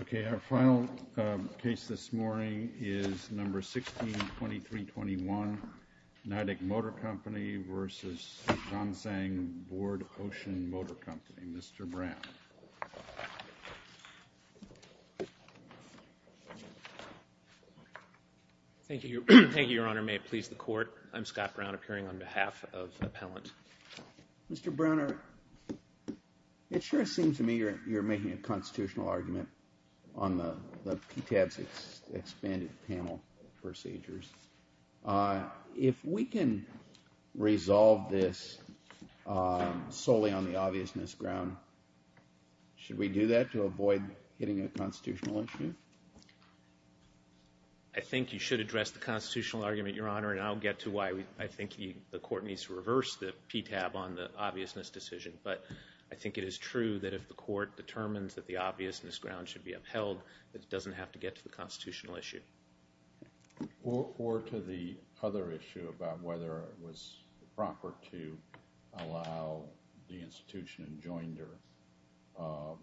Okay, our final case this morning is No. 16-2321, NIDIC Motor Company v. Zansang Board Ocean Motor Company, Mr. Brown. Thank you, Your Honor. May it please the Court, I'm Scott Brown, appearing on behalf of the appellant. Mr. Browner, it sure seems to me you're making a constitutional argument on the PTAB's expanded panel procedures. If we can resolve this solely on the obviousness ground, should we do that to avoid hitting a constitutional issue? I think you should address the constitutional argument, Your Honor, and I'll get to why I think the Court needs to reverse the PTAB on the obviousness decision, but I think it is true that if the Court determines that the obviousness ground should be upheld, it doesn't have to get to the constitutional issue. Or to the other issue about whether it was proper to allow the institution and joinder of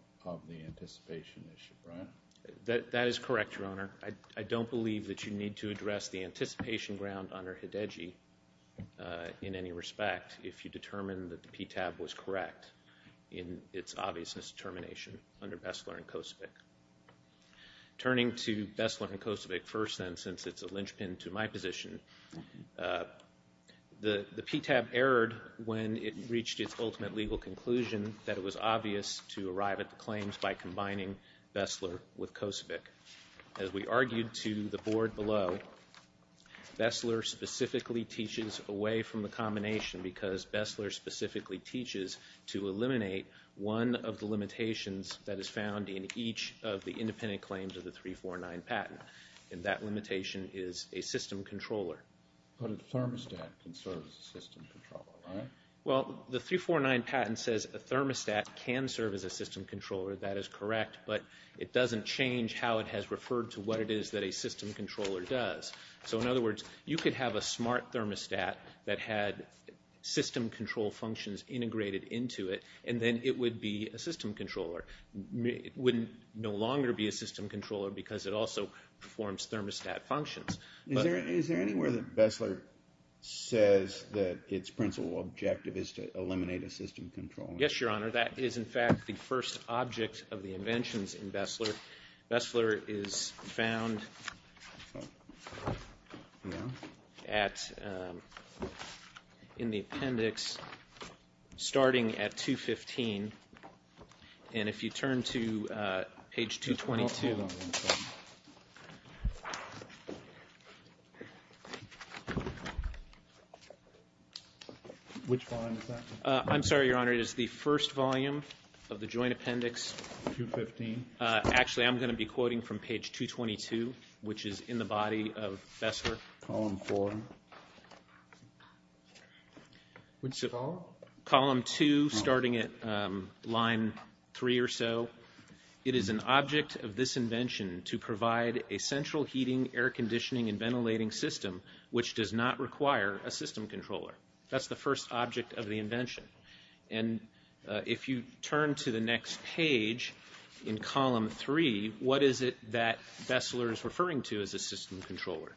the anticipation issue, right? That is correct, Your Honor. I don't believe that you need to address the anticipation ground under Hidegi in any respect if you determine that the PTAB was correct in its obviousness determination under Bessler and Kosevich. Turning to Bessler and Kosevich first, then, since it's a linchpin to my position, the PTAB erred when it reached its ultimate legal conclusion that it was obvious to arrive at claims by combining Bessler with Kosevich. As we argued to the Board below, Bessler specifically teaches away from the combination because Bessler specifically teaches to eliminate one of the limitations that is found in each of the independent claims of the 349 patent, and that limitation is a system controller. But a thermostat can serve as a system controller, right? Well, the 349 patent says a thermostat can serve as a system controller, that is correct, but it doesn't change how it has referred to what it is that a system controller does. So in other words, you could have a smart thermostat that had system control functions integrated into it, and then it would be a system controller. It would no longer be a system controller because it also performs thermostat functions. Is there anywhere that Bessler says that its principal objective is to eliminate a system controller? Yes, Your Honor. That is, in fact, the first object of the inventions in Bessler. Bessler is found in the appendix starting at 215, and if you turn to page 222. Which volume is that? I'm sorry, Your Honor. It is the first volume of the joint appendix. 215. Actually, I'm going to be quoting from page 222, which is in the body of Bessler. Column four. Column two, starting at line three or so. It is an object of this invention to provide a central heating, air conditioning, and ventilating system, which does not require a system controller. That's the first object of the invention. And if you turn to the next page in column three, what is it that Bessler is referring to as a system controller?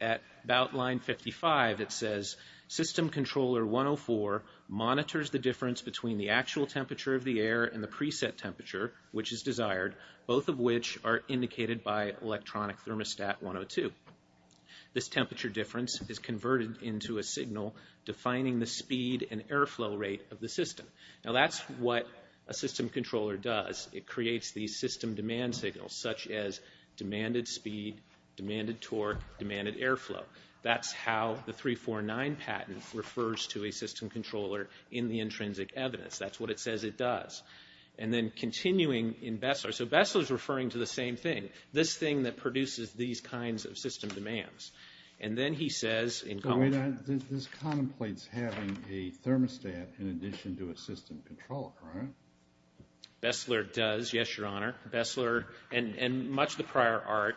At about line 55, it says, system controller 104 monitors the difference between the actual temperature of the air and the preset temperature, which is desired, both of which are indicated by electronic thermostat 102. This temperature difference is converted into a signal defining the speed and airflow rate of the system. Now, that's what a system controller does. It creates these system demand signals, such as demanded speed, demanded torque, demanded airflow. That's how the 349 patent refers to a system controller in the intrinsic evidence. That's what it says it does. And then continuing in Bessler, so Bessler is referring to the same thing. This thing that produces these kinds of system demands. And then he says in column... This contemplates having a thermostat in addition to a system controller, right? Bessler does, yes, Your Honor. Bessler, and much of the prior art,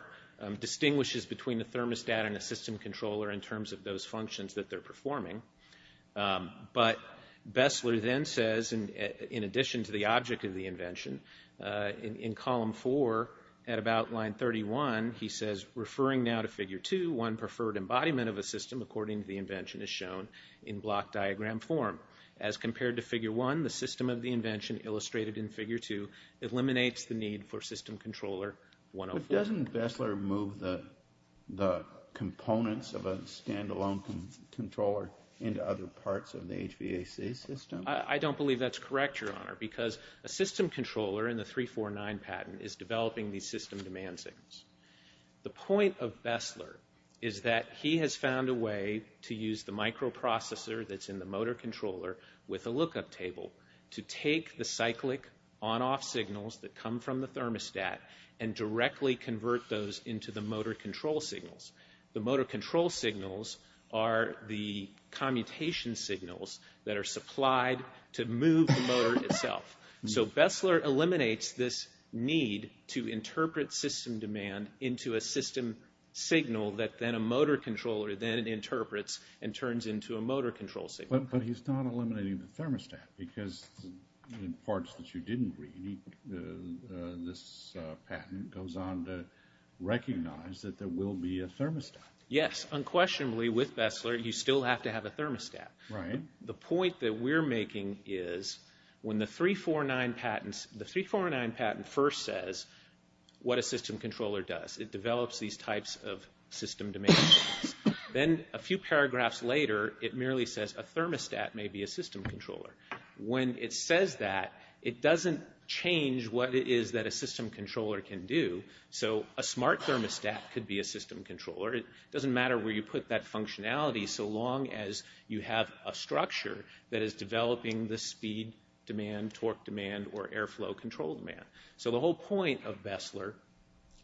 distinguishes between a thermostat and a system controller in terms of those functions that they're performing. But Bessler then says, in addition to the object of the invention, in column four, at line 31, he says, referring now to figure 2, one preferred embodiment of a system according to the invention is shown in block diagram form. As compared to figure 1, the system of the invention illustrated in figure 2 eliminates the need for system controller 104. But doesn't Bessler move the components of a stand-alone controller into other parts of the HVAC system? I don't believe that's correct, Your Honor, because a system controller in the 349 patent is developing these system demand signals. The point of Bessler is that he has found a way to use the microprocessor that's in the motor controller with a lookup table to take the cyclic on-off signals that come from the thermostat and directly convert those into the motor control signals. The motor control signals are the commutation signals that are supplied to move the motor itself. So Bessler eliminates this need to interpret system demand into a system signal that then a motor controller then interprets and turns into a motor control signal. But he's not eliminating the thermostat, because in parts that you didn't read, this patent goes on to recognize that there will be a thermostat. Yes, unquestionably, with Bessler, you still have to have a thermostat. The point that we're making is when the 349 patent first says what a system controller does, it develops these types of system demand signals. Then a few paragraphs later, it merely says a thermostat may be a system controller. When it says that, it doesn't change what it is that a system controller can do. So a smart thermostat could be a system controller. It doesn't matter where you put that functionality so long as you have a structure that is developing the speed demand, torque demand, or airflow control demand. So the whole point of Bessler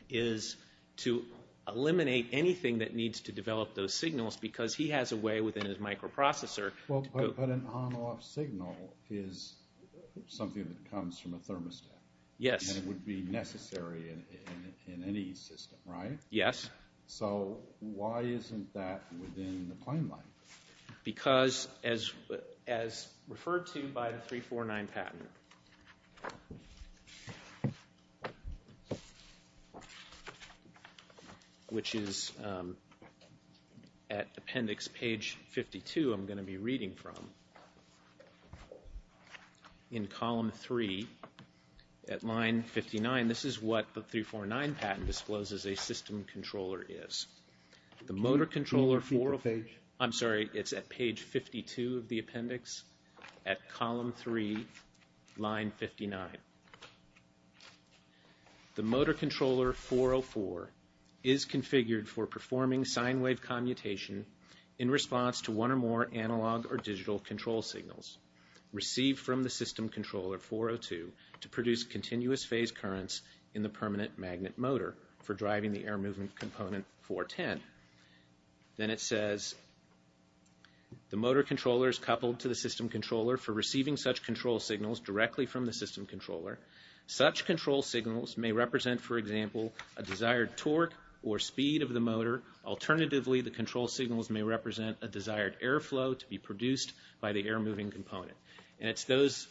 is to eliminate anything that needs to develop those signals because he has a way within his microprocessor. But an on-off signal is something that comes from a thermostat. Yes. And it would be necessary in any system, right? Yes. So why isn't that within the plan line? Because as referred to by the 349 patent, which is at appendix page 52 I'm going to be reading from, in column 3 at line 59. This is what the 349 patent discloses a system controller is. The motor controller 404, I'm sorry, it's at page 52 of the appendix at column 3, line 59. The motor controller 404 is configured for performing sine wave commutation in response to one or more analog or digital control signals received from the system controller 402 to produce continuous phase currents in the permanent magnet motor for driving the air movement component 410. Then it says, the motor controller is coupled to the system controller for receiving such control signals directly from the system controller. Such control signals may represent, for example, a desired torque or speed of the motor. Alternatively, the control signals may represent a desired air flow to be produced by the air moving component. And it's those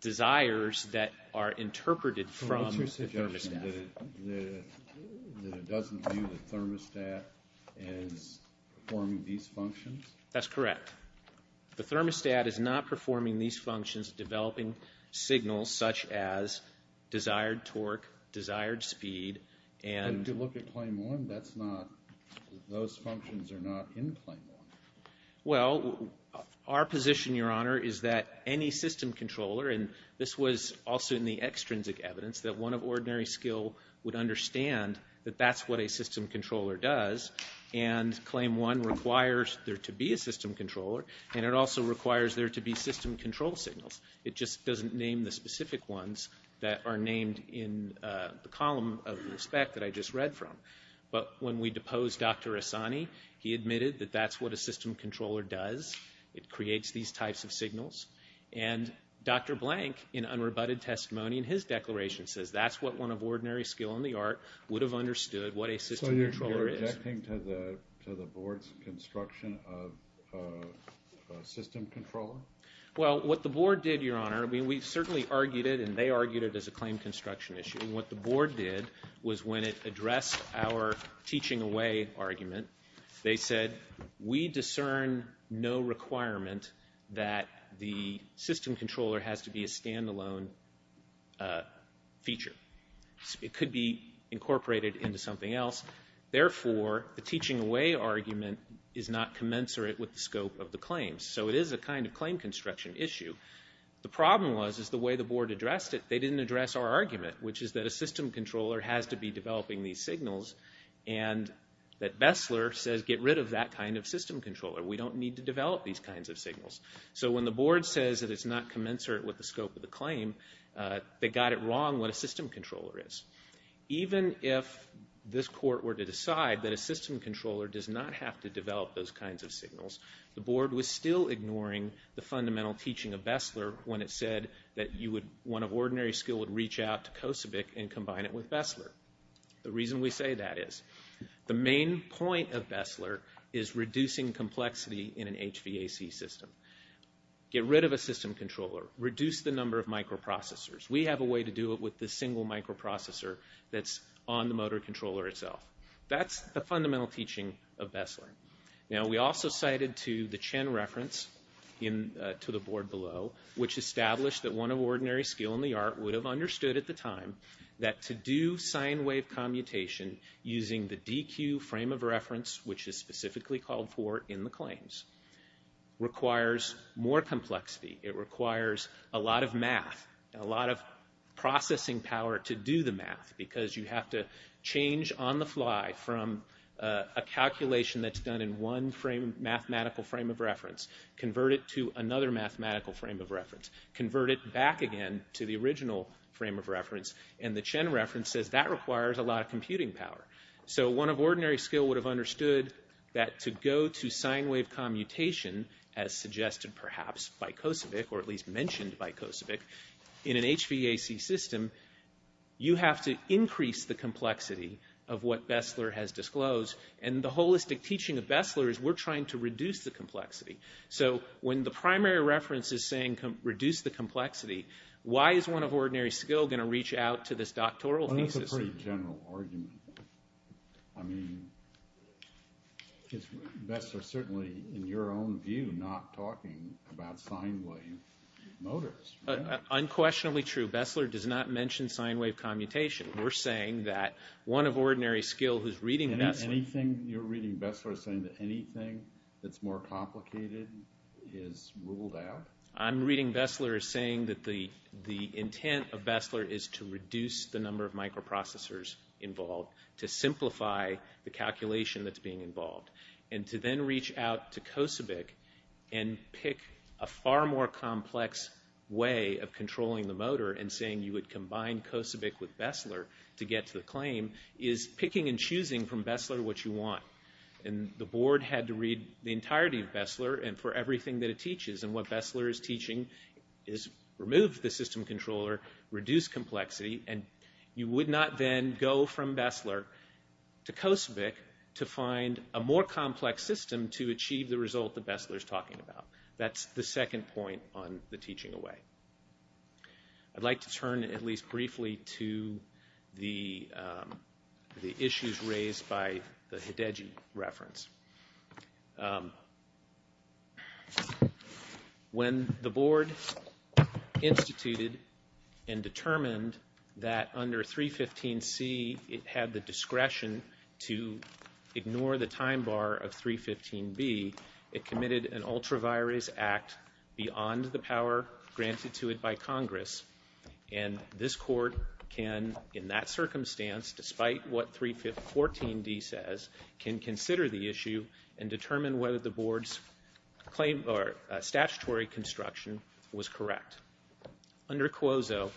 desires that are interpreted from the thermostat. That it doesn't view the thermostat as performing these functions? That's correct. The thermostat is not performing these functions developing signals such as desired torque, desired speed, and... Those functions are not in claim 1. Well, our position, Your Honor, is that any system controller, and this was also in the extrinsic evidence, that one of ordinary skill would understand that that's what a system controller does. And claim 1 requires there to be a system controller, and it also requires there to be system control signals. It just doesn't name the specific ones that are named in the column of respect that I just read from. But when we deposed Dr. Assani, he admitted that that's what a system controller does. It creates these types of signals. And Dr. Blank, in unrebutted testimony in his declaration, says that's what one of ordinary skill in the art would have understood what a system controller is. So you're objecting to the board's construction of a system controller? Well, what the board did, Your Honor, we certainly argued it, and they argued it as a claim construction issue. What the board did was when it addressed our teaching away argument, they said we discern no requirement that the system controller has to be a standalone feature. It could be incorporated into something else. Therefore, the teaching away argument is not commensurate with the scope of the claim. So it is a kind of claim construction issue. The problem was is the way the board addressed it, they didn't address our argument, which is that a system controller has to be developing these signals, and that Bessler says get rid of that kind of system controller. We don't need to develop these kinds of signals. So when the board says that it's not commensurate with the scope of the claim, they got it wrong what a system controller is. Even if this court were to decide that a system controller does not have to develop those kinds of signals, the board was still ignoring the fundamental teaching of Bessler when it said that one of ordinary skill would reach out to Kosevich and combine it with Bessler. The reason we say that is the main point of Bessler is reducing complexity in an HVAC system. Get rid of a system controller. Reduce the number of microprocessors. We have a way to do it with this single microprocessor That's the fundamental teaching of Bessler. Now we also cited to the Chen reference to the board below, which established that one of ordinary skill in the art would have understood at the time that to do sine wave commutation using the DQ frame of reference, which is specifically called for in the claims, requires more complexity. It requires a lot of math, a lot of processing power to do the math, because you have to change on the fly from a calculation that's done in one mathematical frame of reference, convert it to another mathematical frame of reference, convert it back again to the original frame of reference, and the Chen reference says that requires a lot of computing power. So one of ordinary skill would have understood that to go to sine wave commutation, as suggested perhaps by Kosevich, or at least mentioned by Kosevich, in an HVAC system, you have to increase the complexity of what Bessler has disclosed. And the holistic teaching of Bessler is we're trying to reduce the complexity. So when the primary reference is saying reduce the complexity, why is one of ordinary skill going to reach out to this doctoral thesis? That's a pretty general argument. I mean, Bessler certainly, in your own view, not talking about sine wave motors. Unquestionably true. Bessler does not mention sine wave commutation. We're saying that one of ordinary skill who's reading Bessler... Anything you're reading Bessler is saying that anything that's more complicated is ruled out? I'm reading Bessler as saying that the intent of Bessler is to reduce the number of microprocessors involved, to simplify the calculation that's being involved, and to then reach out to Kosevich and pick a far more complex way of controlling the motor and saying you would combine Kosevich with Bessler to get to the claim is picking and choosing from Bessler what you want. And the board had to read the entirety of Bessler and for everything that it teaches. And what Bessler is teaching is remove the system controller, reduce complexity, and you would not then go from Bessler to Kosevich to find a more complex system to achieve the result that Bessler's talking about. That's the second point on the teaching away. I'd like to turn, at least briefly, to the issues raised by the Hidegi reference. When the board instituted and determined that under 315C it had the discretion to ignore the time bar of 315B, it committed an ultra-virus act beyond the power granted to it by Congress. And this court can, in that circumstance, despite what 314D says, can consider the issue and determine whether the board's statutory construction was correct. Under COSO,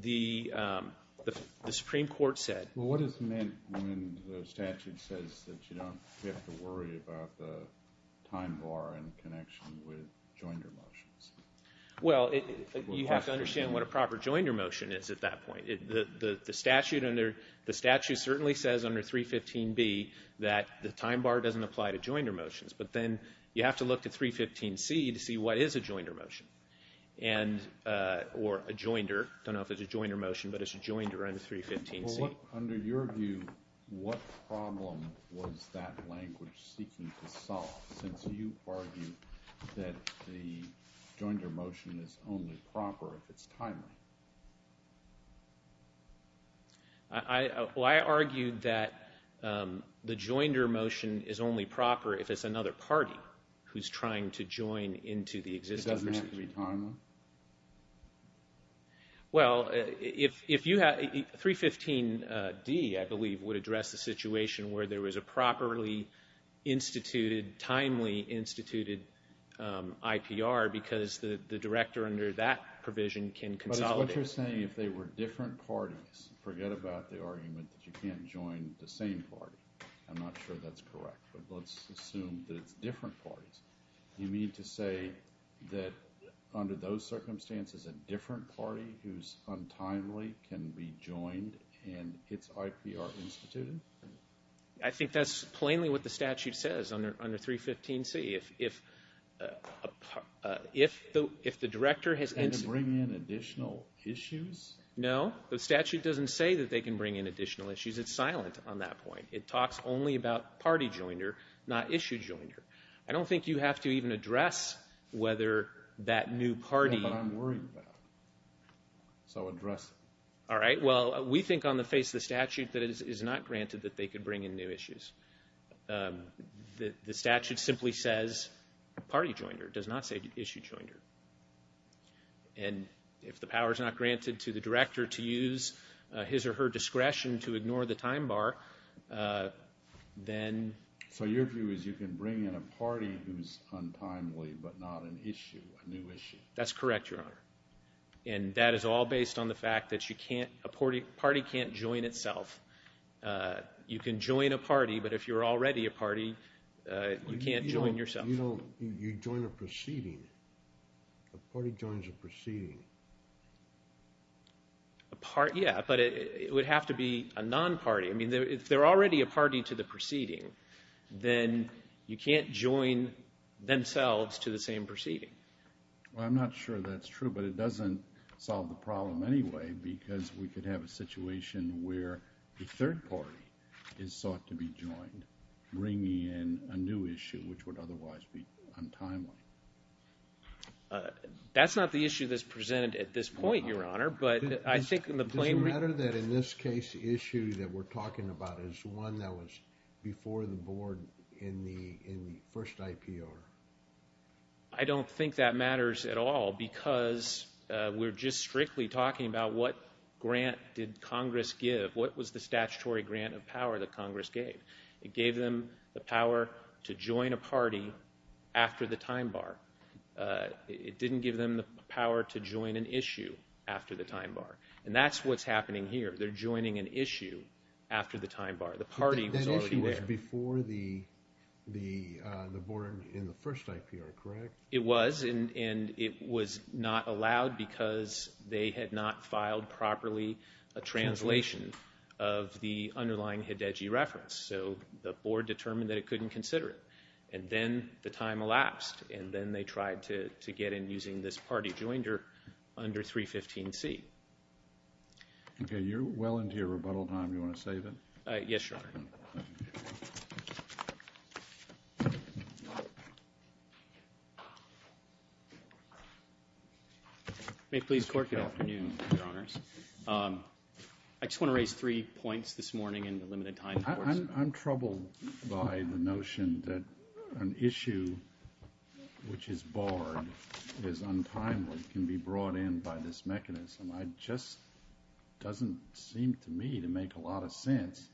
the Supreme Court said... Well, what is meant when the statute says that you don't have to worry about the time bar in connection with joinder motions? Well, you have to understand what a proper joinder motion is at that point. The statute certainly says under 315B that the time bar doesn't apply to joinder motions. But then you have to look to 315C to see what is a joinder motion. Or a joinder. I don't know if it's a joinder motion, but it's a joinder under 315C. Under your view, what problem was that language seeking to solve since you argue that the joinder motion is only proper if it's timely? Well, I argue that the joinder motion is only proper if it's another party who's trying to join into the existing procedure. It doesn't have to be timely? Well, if you have... 315D, I believe, would address the situation where there was a properly instituted, timely instituted IPR because the director under that provision can consolidate. But it's what you're saying. If they were different parties, forget about the argument that you can't join the same party. I'm not sure that's correct. But let's assume that it's different parties. You mean to say that under those circumstances a different party who's untimely can be joined and its IPR instituted? I think that's plainly what the statute says under 315C. If the director has... And to bring in additional issues? No, the statute doesn't say that they can bring in additional issues. It's silent on that point. It talks only about party joiner, not issue joiner. I don't think you have to even address whether that new party... But I'm worried about it. So address it. All right, well, we think on the face of the statute that it is not granted that they could bring in new issues. The statute simply says party joiner. It does not say issue joiner. And if the power's not granted to the director to use his or her discretion to ignore the time bar, then... So your view is you can bring in a party who's untimely but not an issue, a new issue? That's correct, Your Honor. And that is all based on the fact that a party can't join itself. You can join a party, but if you're already a party, you can't join yourself. You know, you join a proceeding. A party joins a proceeding. Yeah, but it would have to be a non-party. I mean, if they're already a party to the proceeding, then you can't join themselves to the same proceeding. Well, I'm not sure that's true, but it doesn't solve the problem anyway where the third party is sought to be joined, bringing in a new issue, which would otherwise be untimely. That's not the issue that's presented at this point, Your Honor. Does it matter that in this case the issue that we're talking about is one that was before the board in the first IPR? I don't think that matters at all because we're just strictly talking about what grant did Congress give, what was the statutory grant of power that Congress gave? It gave them the power to join a party after the time bar. It didn't give them the power to join an issue after the time bar, and that's what's happening here. They're joining an issue after the time bar. The party was already there. That issue was before the board in the first IPR, correct? It was, and it was not allowed because they had not filed properly a translation of the underlying Hedeggie reference. So the board determined that it couldn't consider it, and then the time elapsed, and then they tried to get in using this party jointer under 315C. You're well into your rebuttal time. Do you want to save it? Yes, Your Honor. May it please the Court? Good afternoon, Your Honors. I just want to raise three points this morning in the limited time. I'm troubled by the notion that an issue which is barred is untimely can be brought in by this mechanism. It just doesn't seem to me to make a lot of sense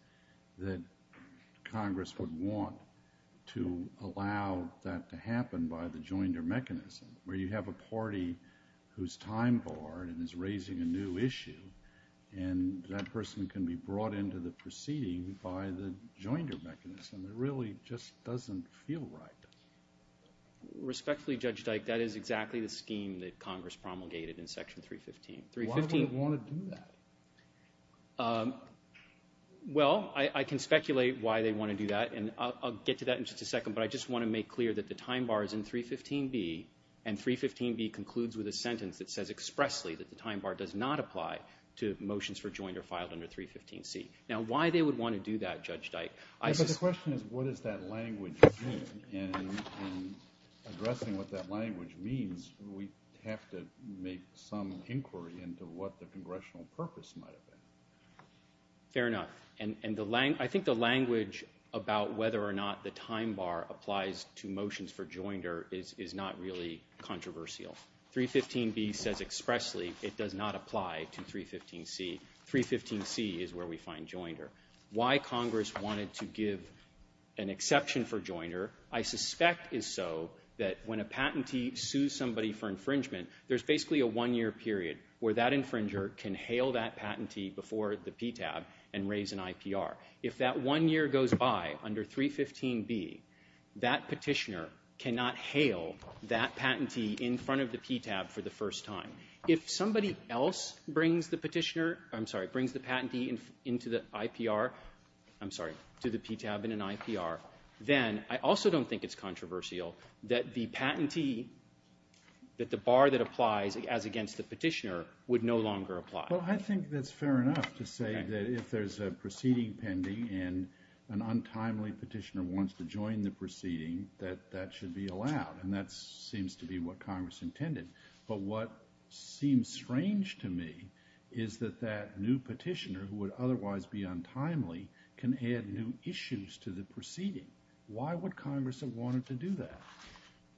that Congress would want to allow that to happen by the jointer mechanism where you have a party whose time bar and is raising a new issue, and that person can be brought into the proceeding by the jointer mechanism. It really just doesn't feel right. Respectfully, Judge Dyke, that is exactly the scheme that Congress promulgated in Section 315. Why would it want to do that? Well, I can speculate why they want to do that, and I'll get to that in just a second, but I just want to make clear that the time bar is in 315B, and 315B concludes with a sentence that says expressly that the time bar does not apply to motions for jointer filed under 315C. But the question is, what does that language mean? In addressing what that language means, we have to make some inquiry into what the congressional purpose might have been. Fair enough. And I think the language about whether or not the time bar applies to motions for jointer is not really controversial. 315B says expressly it does not apply to 315C. 315C is where we find jointer. Why Congress wanted to give an exception for jointer, I suspect is so that when a patentee sues somebody for infringement, there's basically a one-year period where that infringer can hail that patentee before the PTAB and raise an IPR. If that one year goes by under 315B, that petitioner cannot hail that patentee in front of the PTAB for the first time. If somebody else brings the petitioner... I'm sorry, brings the patentee into the IPR... I'm sorry, to the PTAB in an IPR, then I also don't think it's controversial that the patentee, that the bar that applies as against the petitioner would no longer apply. Well, I think that's fair enough to say that if there's a proceeding pending and an untimely petitioner wants to join the proceeding, that that should be allowed, and that seems to be what Congress intended. But what seems strange to me is that that new petitioner, who would otherwise be untimely, can add new issues to the proceeding. Why would Congress have wanted to do that?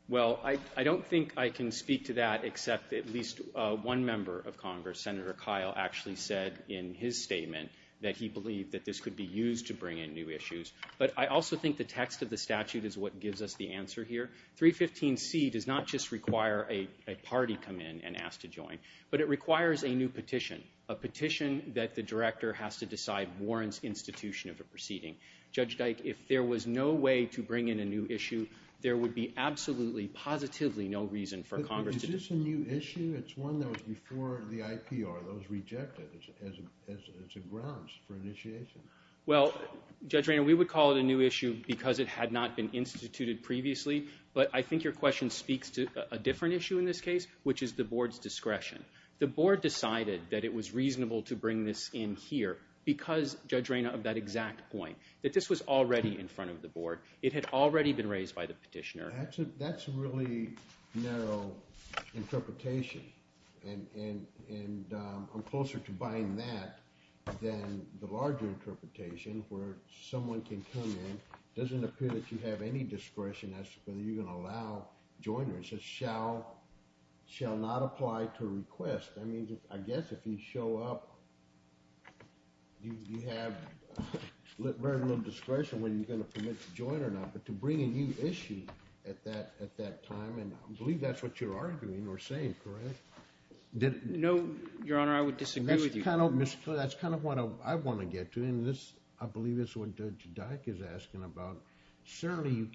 Well, I don't think I can speak to that except that at least one member of Congress, Senator Kyle, actually said in his statement that he believed that this could be used to bring in new issues. But I also think the text of the statute is what gives us the answer here. 315C does not just require a party come in and ask to join, but it requires a new petition, a petition that the director has to decide warrants institution of a proceeding. Judge Dyke, if there was no way to bring in a new issue, there would be absolutely, positively no reason for Congress... But is this a new issue? It's one that was before the IPR that was rejected as a grounds for initiation. Well, Judge Rayner, we would call it a new issue because it had not been instituted previously, but I think your question speaks to a different issue in this case, which is the board's discretion. The board decided that it was reasonable to bring this in here because, Judge Rayner, of that exact point, that this was already in front of the board. It had already been raised by the petitioner. That's a really narrow interpretation, and I'm closer to buying that than the larger interpretation where someone can come in, doesn't appear that you have any discretion as to whether you're going to allow joiners. It says, shall not apply to request. I mean, I guess if you show up, you have very little discretion when you're going to permit to join or not, but to bring a new issue at that time, and I believe that's what you're arguing or saying, correct? No, Your Honor, I would disagree with you. That's kind of what I want to get to, and I believe that's what Judge Dyck is asking about. Certainly you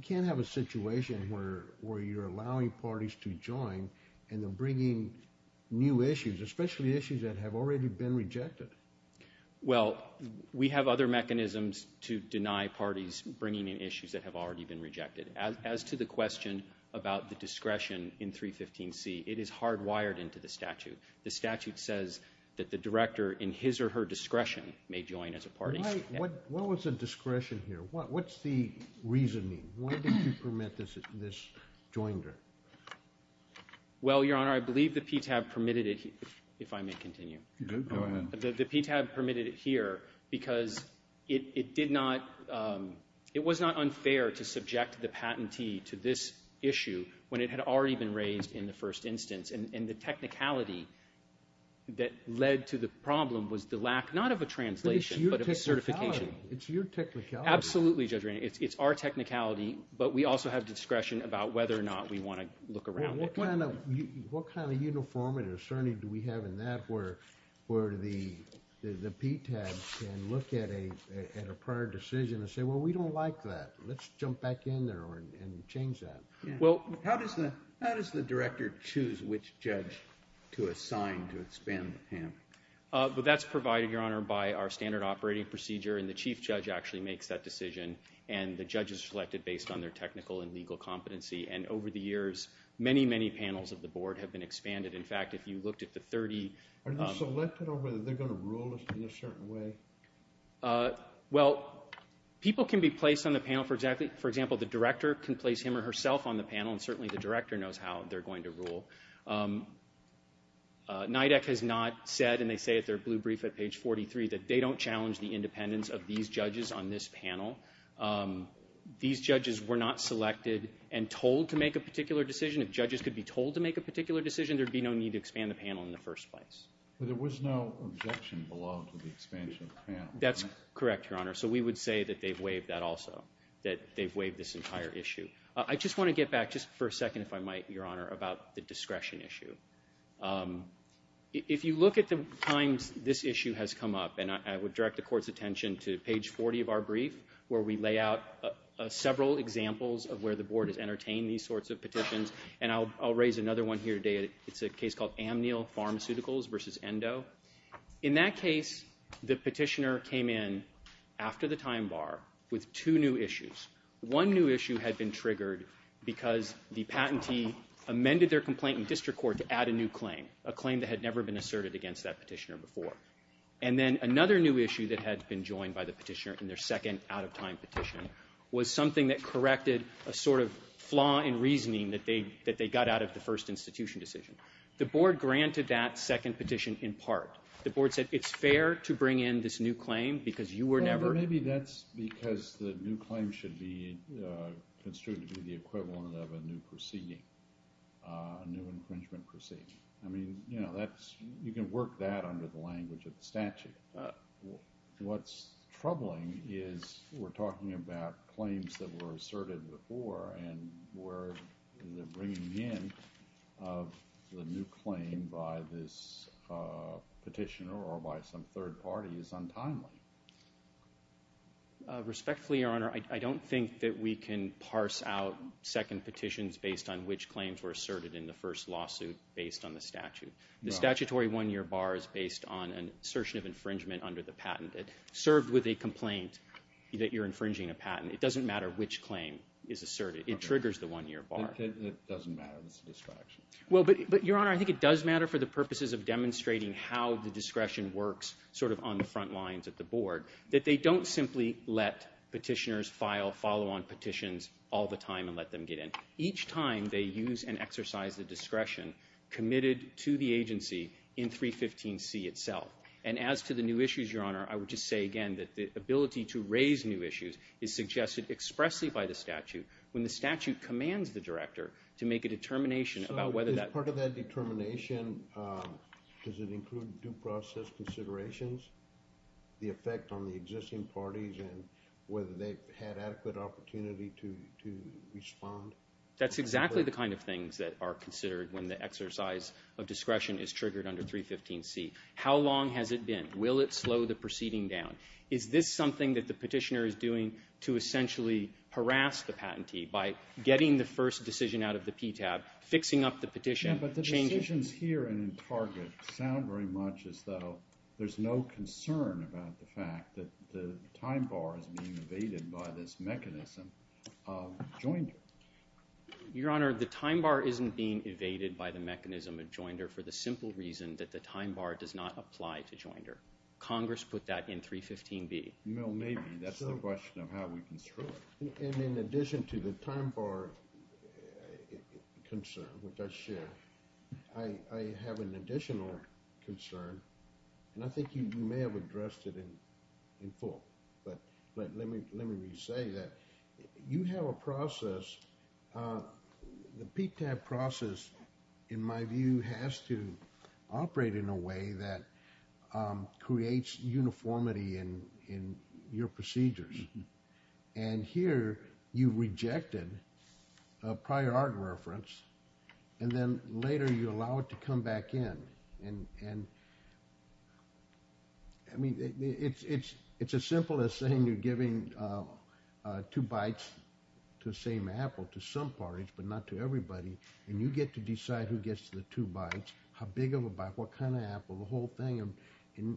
can't have a situation where you're allowing parties to join and they're bringing new issues, especially issues that have already been rejected. Well, we have other mechanisms to deny parties bringing in issues that have already been rejected. As to the question about the discretion in 315C, it is hardwired into the statute. The statute says that the director in his or her discretion may join as a party. What was the discretion here? What's the reasoning? Why did you permit this joiner? Well, Your Honor, I believe the PTAB permitted it, if I may continue. The PTAB permitted it here because it was not unfair to subject the patentee to this issue when it had already been raised in the first instance, and the technicality that led to the problem was the lack not of a translation, but of a certification. It's your technicality. Absolutely, Judge Ranney. It's our technicality, but we also have discretion about whether or not we want to look around. What kind of uniformity or certainty do we have in that where the PTAB can look at a prior decision and say, well, we don't like that. Let's jump back in there and change that. How does the director choose which judge to assign to expand the patent? That's provided, Your Honor, by our standard operating procedure, and the chief judge actually makes that decision, and the judge is selected based on their technical and legal competency, and over the years, many, many panels of the board have been expanded. In fact, if you looked at the 30... Are they selected or are they going to rule in a certain way? Well, people can be placed on the panel. For example, the director can place him or herself on the panel, and certainly the director knows how they're going to rule. NIDAC has not said, and they say at their blue brief at page 43, that they don't challenge the independence of these judges on this panel. These judges were not selected and told to make a particular decision. If judges could be told to make a particular decision, there'd be no need to expand the panel in the first place. But there was no objection below to the expansion of the panel. That's correct, Your Honor, so we would say that they've waived that also, that they've waived this entire issue. I just want to get back, just for a second, if I might, Your Honor, about the discretion issue. If you look at the times this issue has come up, and I would direct the Court's attention to page 40 of our brief, where we lay out several examples of where the Board has entertained these sorts of petitions, and I'll raise another one here today. It's a case called Amnil Pharmaceuticals v. Endo. In that case, the petitioner came in after the time bar with two new issues. One new issue had been triggered because the patentee amended their complaint in district court to add a new claim, a claim that had never been asserted against that petitioner before. And then another new issue that had been joined by the petitioner in their second out-of-time petition was something that corrected a sort of flaw in reasoning that they got out of the first institution decision. The Board granted that second petition in part. The Board said it's fair to bring in this new claim because you were never... Well, maybe that's because the new claim should be construed to be the equivalent of a new proceeding, a new infringement proceeding. I mean, you can work that under the language of the statute. What's troubling is we're talking about claims that were asserted before and we're bringing in of the new claim by this petitioner or by some third party is untimely. Respectfully, Your Honour, I don't think that we can parse out second petitions based on which claims were asserted in the first lawsuit based on the statute. The statutory one-year bar is based on an assertion of infringement under the patent that served with a complaint that you're infringing a patent. It doesn't matter which claim is asserted. It triggers the one-year bar. But, Your Honour, I think it does matter for the purposes of demonstrating how the discretion works sort of on the front lines of the Board that they don't simply let petitioners file follow-on petitions all the time and let them get in. Each time they use and exercise the discretion committed to the agency in 315C itself. And as to the new issues, Your Honour, I would just say again that the ability to raise new issues is suggested expressly by the statute when the statute commands the Director to make a determination about whether that... So is part of that determination, does it include due process considerations, the effect on the existing parties and whether they've had adequate opportunity to respond? That's exactly the kind of things that are considered when the exercise of discretion is triggered under 315C. How long has it been? Will it slow the proceeding down? Is this something that the petitioner is doing to essentially harass the patentee by getting the first decision out of the PTAB, fixing up the petition, changing... Yeah, but the decisions here and in Target sound very much as though there's no concern about the fact that the time bar is being evaded by this mechanism of joinder. Your Honour, the time bar isn't being evaded by the mechanism of joinder for the simple reason that the time bar does not apply to joinder. Congress put that in 315B. Well, maybe. That's the question of how we construct. And in addition to the time bar concern, which I share, I have an additional concern, and I think you may have addressed it in full, but let me re-say that. You have a process... The PTAB process, in my view, has to operate in a way that creates uniformity in your procedures. And here you rejected a prior art reference, and then later you allow it to come back in. And... I mean, it's as simple as saying you're giving two bites to the same apple to some parties, but not to everybody, and you get to decide who gets the two bites, how big of a bite, what kind of apple, the whole thing.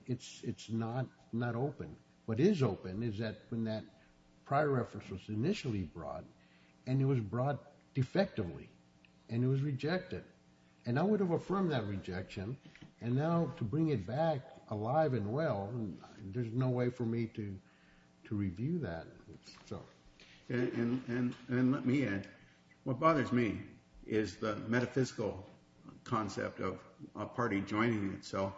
It's not open. What is open is that when that prior reference was initially brought, and it was brought defectively, and it was rejected, and I would have affirmed that rejection, and now to bring it back alive and well, there's no way for me to review that. And let me add, what bothers me is the metaphysical concept of a party joining itself.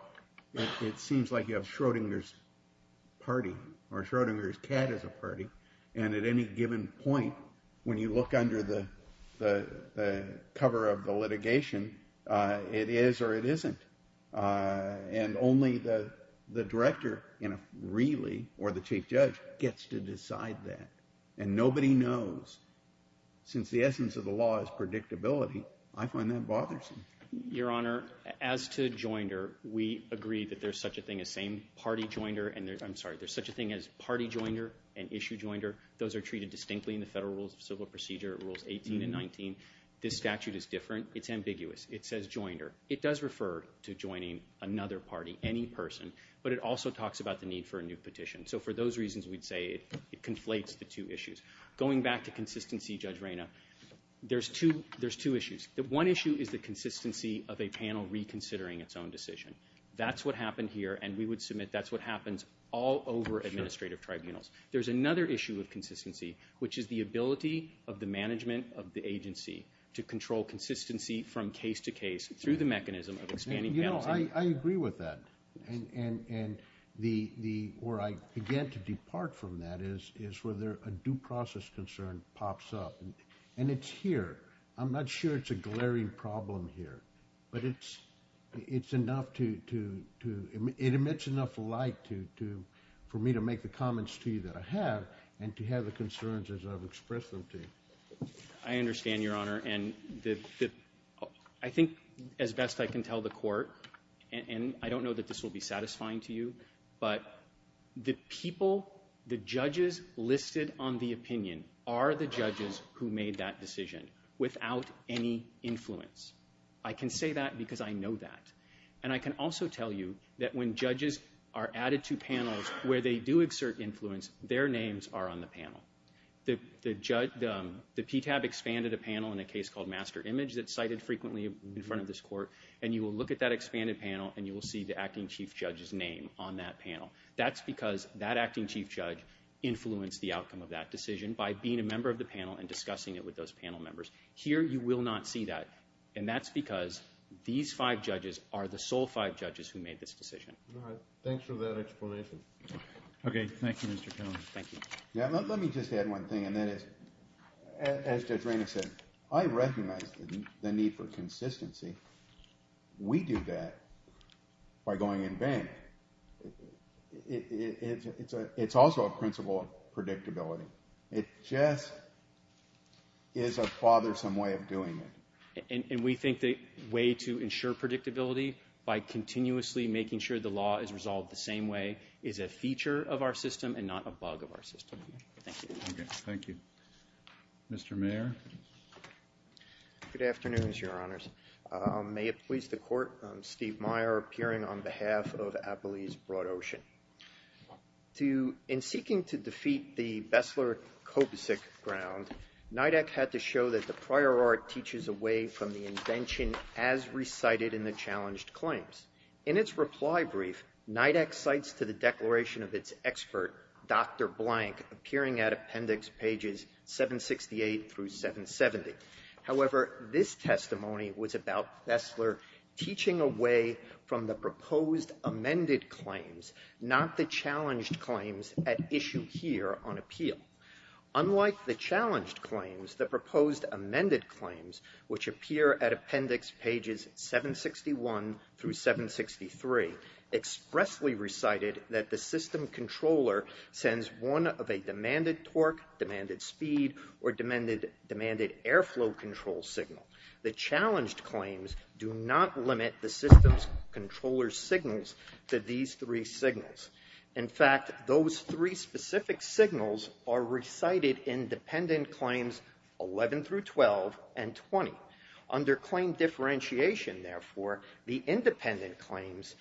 It seems like you have Schrodinger's party, or Schrodinger's cat as a party, and at any given point, when you look under the cover of the litigation, it is or it isn't. And only the director really, or the chief judge, gets to decide that. And nobody knows. Since the essence of the law is predictability, I find that bothersome. Your Honor, as to joinder, we agree that there's such a thing as same-party joinder, and there's such a thing as party joinder and issue joinder. Those are treated distinctly in the Federal Rules of Civil Procedure, Rules 18 and 19. This statute is different. It's ambiguous. It says joinder. It does refer to joining another party, any person, but it also talks about the need for a new petition. So for those reasons, we'd say it conflates the two issues. Going back to consistency, Judge Reyna, there's two issues. The one issue is the consistency of a panel reconsidering its own decision. That's what happened here, and we would submit that that's what happens all over administrative tribunals. There's another issue of consistency, which is the ability of the management of the agency to control consistency from case to case through the mechanism of expanding balancing. You know, I agree with that. And-and-and the-the... where I began to depart from that is-is where a due process concern pops up, and it's here. I'm not sure it's a glaring problem here, but it's-it's enough to-to... It emits enough light to-to... for me to make the comments to you that I have and to have the concerns as I've expressed them to you. I understand, Your Honor, and the-the... I think as best I can tell the court, and-and I don't know that this will be satisfying to you, but the people, the judges listed on the opinion are the judges who made that decision without any influence. I can say that because I know that. And I can also tell you that when judges are added to panels where they do exert influence, their names are on the panel. The-the judge... The PTAB expanded a panel in a case called Master Image that's cited frequently in front of this court, and you will look at that expanded panel and you will see the acting chief judge's name on that panel. That's because that acting chief judge influenced the outcome of that decision by being a member of the panel and discussing it with those panel members. Here, you will not see that, and that's because these five judges are the sole five judges who made this decision. All right, thanks for that explanation. Okay, thank you, Mr. Conley. Thank you. Yeah, let-let me just add one thing, and that is, as Judge Reynolds said, I recognize the-the need for consistency. We do that by going in vain. It-it-it's a... It's also a principle of predictability. It just is a bothersome way of doing it. And-and we think the way to ensure predictability by continuously making sure the law is resolved the same way is a feature of our system and not a bug of our system. Thank you. Okay, thank you. Mr. Mayer. Good afternoon, Your Honors. Um, may it please the court, um, Steve Mayer appearing on behalf of Appalachia's Broad Ocean. To... On the Bessler-Kobczyk ground, NIDAC had to show that the prior art teaches away from the invention as recited in the challenged claims. In its reply brief, NIDAC cites to the declaration of its expert, Dr. Blank, appearing at Appendix Pages 768 through 770. However, this testimony was about Bessler teaching away from the proposed amended claims, not the challenged claims at issue here on appeal. Unlike the challenged claims, the proposed amended claims, which appear at Appendix Pages 761 through 763, expressly recited that the system controller sends one of a demanded torque, demanded speed, or demanded-demanded airflow control signal. The challenged claims do not limit the system's controller's signals to these three signals. In fact, those three specific signals are recited in dependent claims 11 through 12 and 20. Under claim differentiation, therefore, the independent claims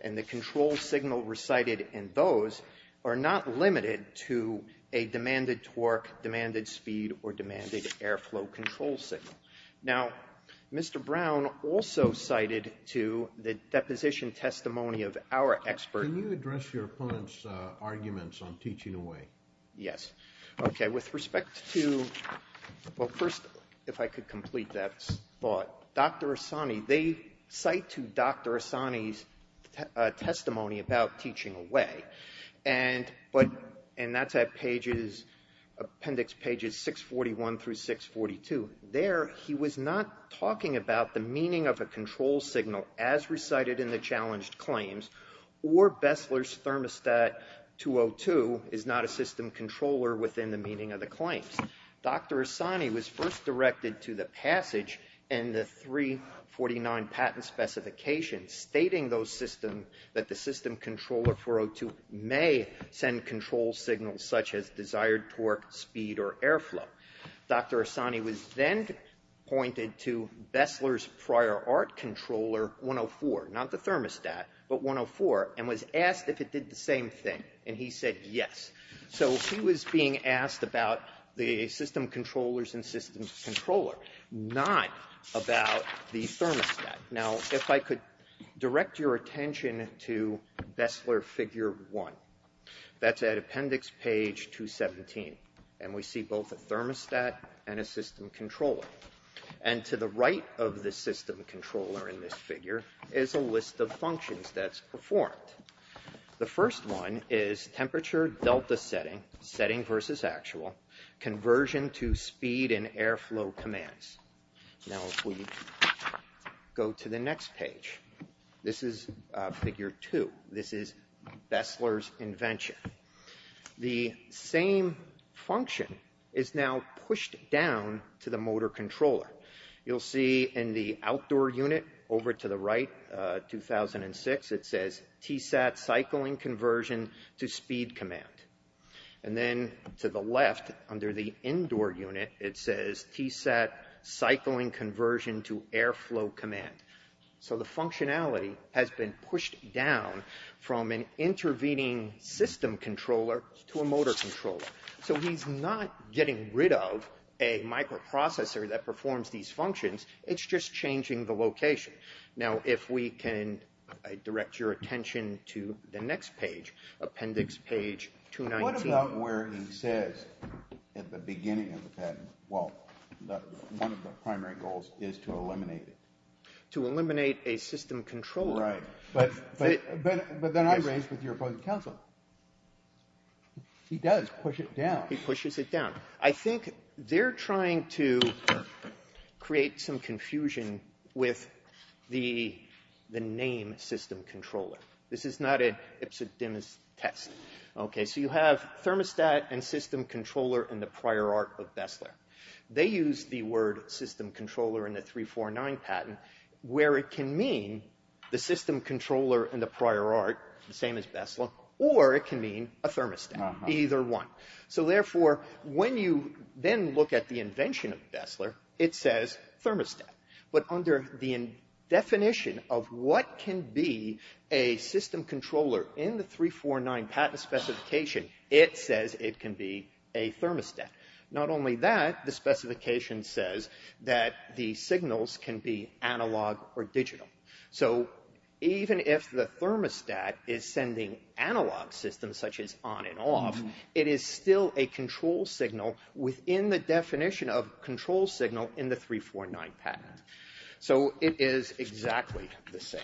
and the control signal recited in those are not limited to a demanded torque, demanded speed, or demanded airflow control signal. Now, Mr. Brown also cited to the deposition testimony of our expert... Can you address your opponent's arguments on teaching away? Yes. Okay, with respect to... Well, first, if I could complete that thought. Dr. Assani, they cite to Dr. Assani's testimony about teaching away, and that's at Appendix Pages 641 through 642. There, he was not talking about the meaning of a control signal as recited in the challenged claims, or Bessler's Thermostat 202 is not a system controller within the meaning of the claims. Dr. Assani was first directed to the passage in the 349 Patent Specification stating those systems, that the system controller 402 may send control signals such as desired torque, speed, or airflow. Dr. Assani was then pointed to Bessler's Prior Art Controller 104, not the thermostat, but 104, and was asked if it did the same thing, and he said yes. So he was being asked about the system controllers and system controller, not about the thermostat. Now, if I could direct your attention to Bessler Figure 1. That's at Appendix Page 217, and we see both a thermostat and a system controller. And to the right of the system controller in this figure is a list of functions that's performed. The first one is temperature delta setting, setting versus actual, conversion to speed and airflow commands. Now, if we go to the next page, this is Figure 2. This is Bessler's invention. The same function is now pushed down to the motor controller. You'll see in the outdoor unit over to the right, 2006, it says TSAT cycling conversion to speed command. And then to the left under the indoor unit, it says TSAT cycling conversion to airflow command. So the functionality has been pushed down from an intervening system controller to a motor controller. So he's not getting rid of a microprocessor that performs these functions. It's just changing the location. Now, if we can direct your attention to the next page, Appendix Page 219. What about where he says at the beginning of the patent, well, one of the primary goals is to eliminate it? To eliminate a system controller. Right. But then I raise with your opposing counsel. He does push it down. He pushes it down. I think they're trying to create some confusion with the name system controller. This is not an Ipsodemus test. Okay, so you have thermostat and system controller in the prior art of Bessler. They use the word system controller in the 349 patent where it can mean the system controller in the prior art, the same as Bessler, or it can mean a thermostat. Either one. So therefore, when you then look at the invention of Bessler, it says thermostat. But under the definition of what can be a system controller in the 349 patent specification, it says it can be a thermostat. Not only that, the specification says that the signals can be analog or digital. So even if the thermostat is sending analog systems such as on and off, it is still a control signal within the definition of control signal in the 349 patent. So it is exactly the same.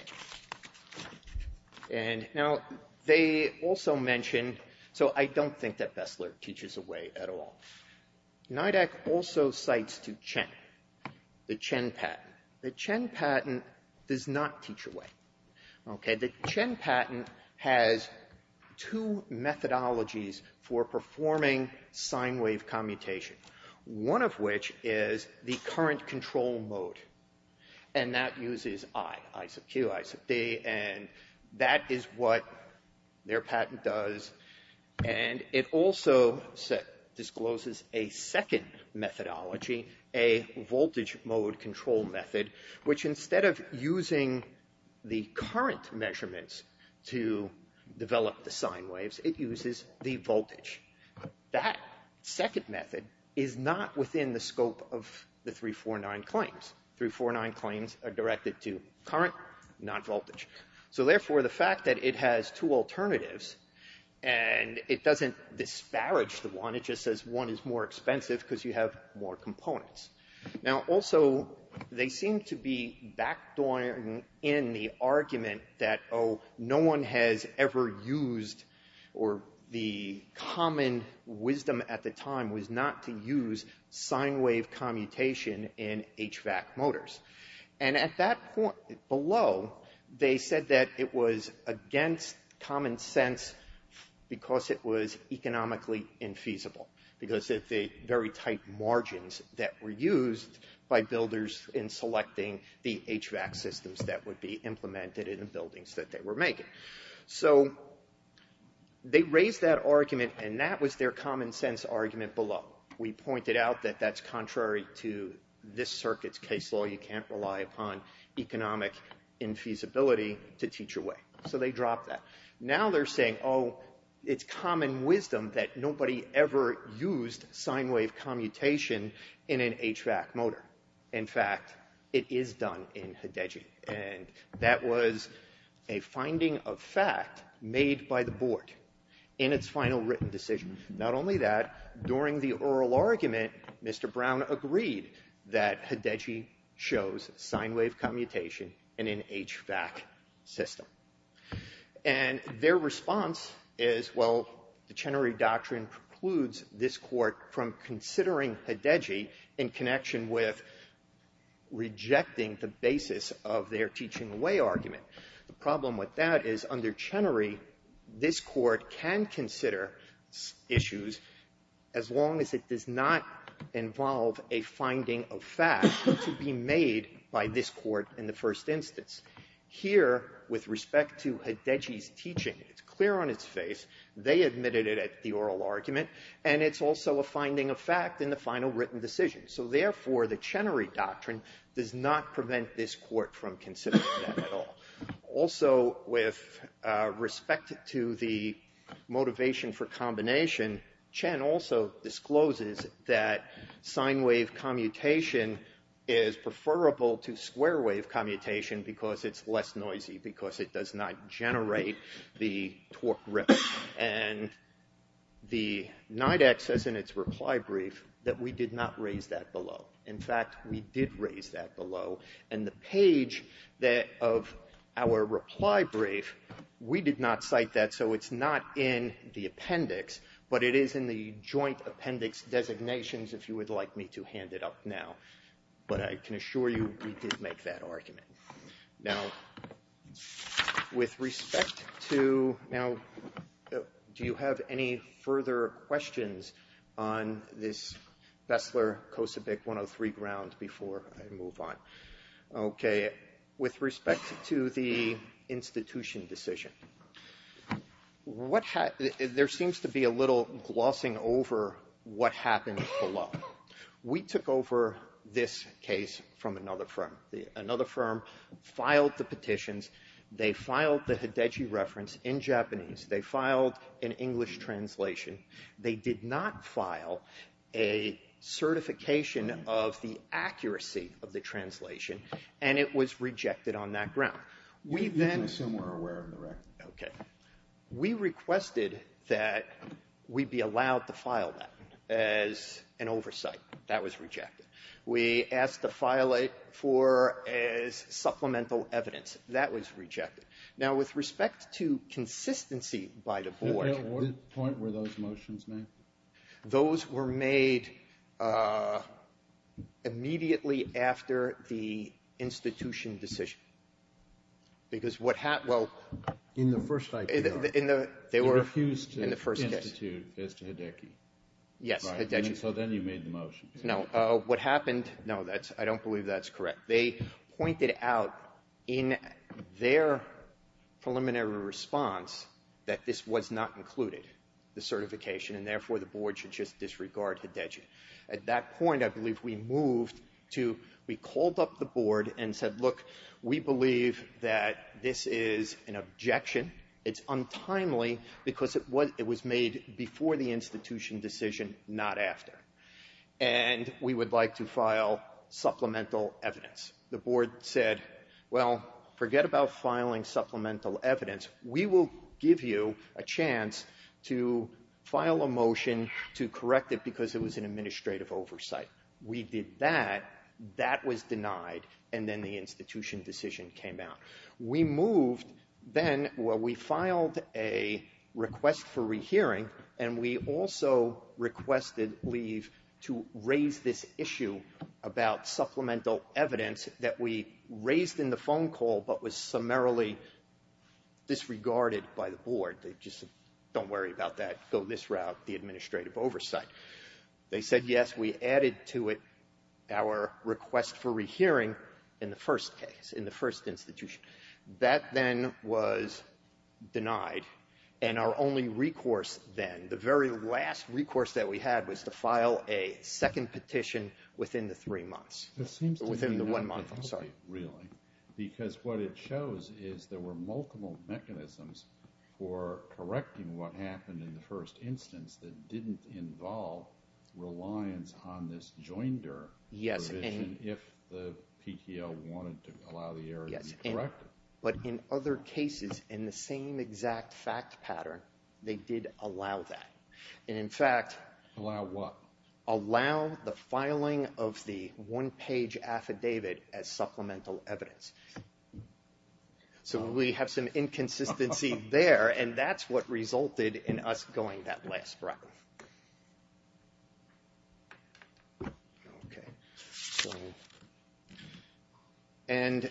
Now, they also mentioned so I don't think that Bessler teaches away at all. NIDAC also cites to Chen, the Chen patent. The Chen patent does not teach away. The Chen patent has two methodologies for performing sine wave commutation. One of which is the current control mode. And that uses I, I sub Q, I sub D, and that is what their patent does. And it also discloses a second methodology, a voltage mode control method, which instead of using the current measurements to develop the sine waves, it uses the voltage. That second method is not within the scope of the 349 claims. 349 claims are directed to current, not voltage. So therefore, the fact that it has two alternatives and it doesn't disparage the one, it just says one is more expensive because you have more components. Now also, they seem to be backed on in the argument that, oh, no one has ever used or the common wisdom at the time was not to use sine wave commutation in HVAC motors. And at that point below, they said that it was against common sense because it was economically infeasible. Because of the very tight margins that were used by builders in selecting the HVAC systems that would be implemented in the buildings that they were making. So, they raised that argument and that was their common sense argument below. We pointed out that that's contrary to this circuit's case law. You can't rely upon economic infeasibility to teach a way. So they dropped that. Now they're saying, oh, it's common wisdom that nobody ever used sine wave commutation in an HVAC motor. In fact, it is done in HIDEGI. And that was a finding of fact made by the board in its final written decision. Not only that, during the oral argument, Mr. Brown agreed that HIDEGI shows sine wave commutation in an HVAC system. And their response is, well, the Chenery Doctrine precludes this court from considering HIDEGI in connection with rejecting the basis of their teaching way argument. The problem with that is under Chenery, this court can consider issues as long as it does not involve a finding of fact to be made by this court in the first instance. Here, with respect to HIDEGI's teaching, it's clear on its face they admitted it at the oral argument and it's also a finding of fact in the final written decision. So therefore, the Chenery Doctrine does not prevent this court from considering that at all. Also, with respect to the motivation for combination, Chen also discloses that sine wave commutation is preferable to square wave commutation because it's more likely to not generate the torque ripple and the NIDAC says in its reply brief that we did not raise that below. In fact, we did raise that below and the page of our reply brief we did not cite that so it's not in the appendix but it is in the joint appendix. With respect to now do you have any further questions on this Vessler COSIBIC 103 ground before I move on? Okay. With respect to the institution decision, there seems to be a little glossing over what happened below. We took over this case from another firm. Another firm filed the petitions. They filed the Hideji reference in Japanese. They filed an English translation. They did not file a certification of the accuracy of the translation and it was rejected on that ground. We then requested that we be allowed to file that as an oversight. That was rejected. We asked to file it for as supplemental evidence. That was rejected. Now with respect to consistency by the board, those were made immediately after the institution decision. Because what happened was they refused to institute as to Hideki. So then you made the motion. No, I don't believe that's correct. They pointed out in their preliminary response that this was not included the certification and therefore the board should disregard Hideki. At that point, I believe, we moved to, we called up the board and said, look, we believe that this is an objection. It's untimely because it was made before the institution decision, not after. And we would like to file supplemental evidence. The board said, well, forget about filing supplemental evidence. We will give you a chance to file a motion to correct it because it was an administrative oversight. We did that. That was denied. And then the institution decision came out. We moved then, well, we filed a request for rehearing and we also requested leave to raise this about supplemental evidence that we raised in the phone call but was summarily disregarded by the board. They just said, don't worry about that, go this route, the administrative oversight. They said, yes, we added to it our request for rehearing in the first case, in the first institution. That then was denied and our only recourse then, the very last recourse that we had was to file a within the three months, within the one month. I'm sorry. Really? Because what it shows is there were multiple mechanisms for correcting what happened in the first instance that didn't involve reliance on this joinder provision if the PTO wanted to allow the error to be corrected. But in other cases in the same exact fact pattern they did allow that and in fact allow what? Allow the correction to be correct. Okay. So and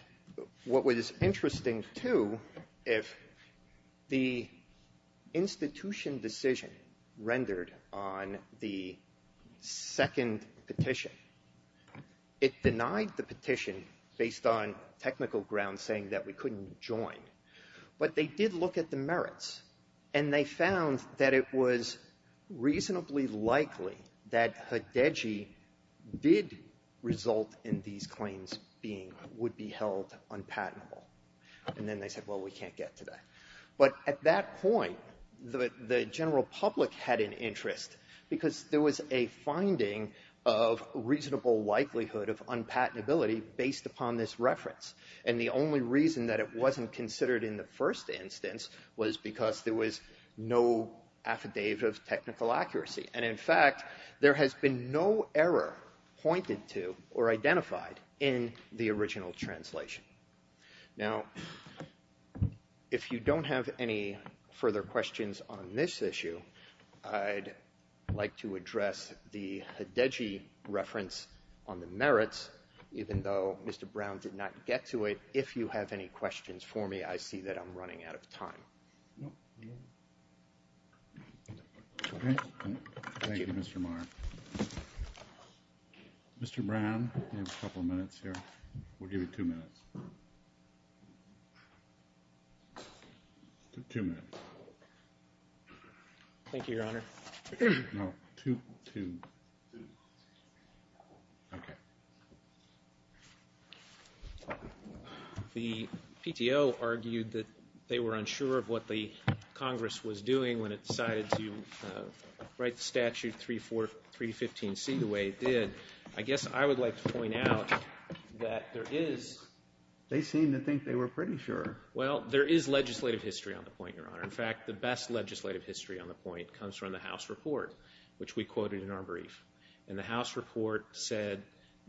what was interesting too if the institution decision rendered on the second petition it denied the petition based on technical grounds saying that we couldn't join but they did look at the merits and they found that it was reasonably likely that Hdegi did result in these claims being would be held unpatentable and then they said well we can't get into that but at that point the general public had an interest because there was a finding of reasonable likelihood of unpatentability based upon this reference and the only reason that it wasn't considered in the first instance was because there was no affidavit of technical accuracy and in fact there has been no error pointed to or identified in the original translation. Now have any questions for me I see that I'm running out of time. Mr. Brown you have a couple minutes here. We'll give you two minutes. Two minutes. Thank you your honor. No two two. The PTO argued that they were unsure of what the Congress was doing when it decided to write statute 34315C the way it did. I guess I would like to point out that there is they seem to think they were pretty sure. Well the statute said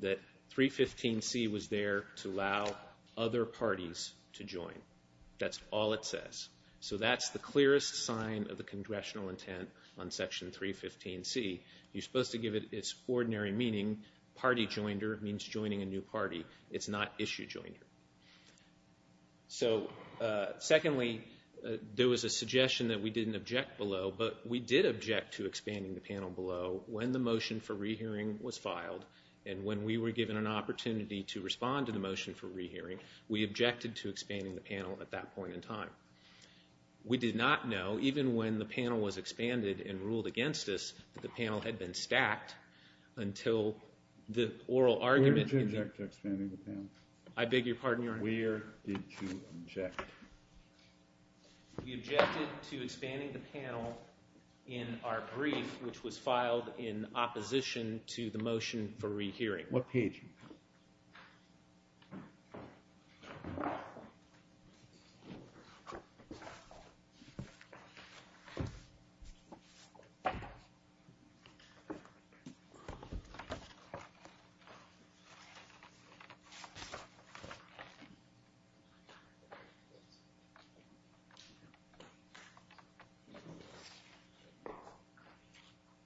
that 315C was there to allow other parties to join. That's all it says. So that's the clearest sign of the congressional intent on section 315C. You're supposed to give it its ordinary meaning party joinder means joining a new party. It's not issue joinder. So secondly there was a suggestion that we didn't object below but we did object to expanding the panel below when the motion for rehearing was filed and when we were given an opportunity to respond to the motion for rehearing we objected to expanding the panel at that point in time. We did not know even when the panel was expanded and ruled against us that the panel had been stacked until the oral argument I beg your pardon your honor we objected to expanding the panel in our brief which was filed in 1711.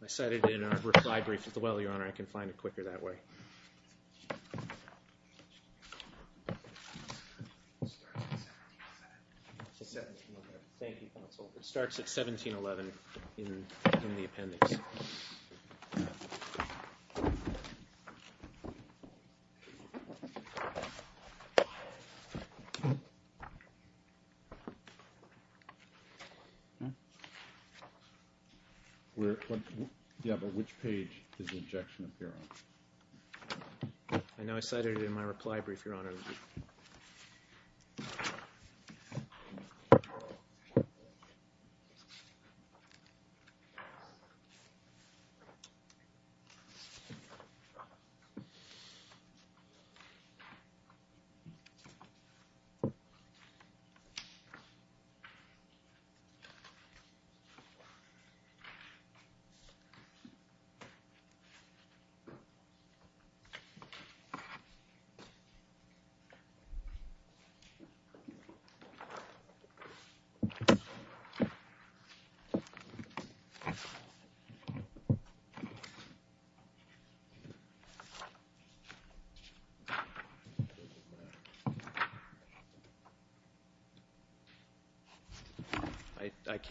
I cited it in our reply brief as well your honor. I can find it quicker It starts at 1711. Thank you counsel. It starts at 1711 in our brief which was filed in the appendix. Which page does the appear on? I cited it in my reply brief your honor. I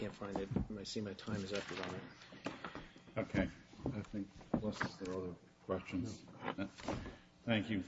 in the appendix. Thank you counsel. It starts at 1711. Thank you counsel. I object to expanding the 1711. object to expanding the brief to 1711. Thank you. I can't find it. I see the time is up. I think there are other questions. Thank you. Thank you.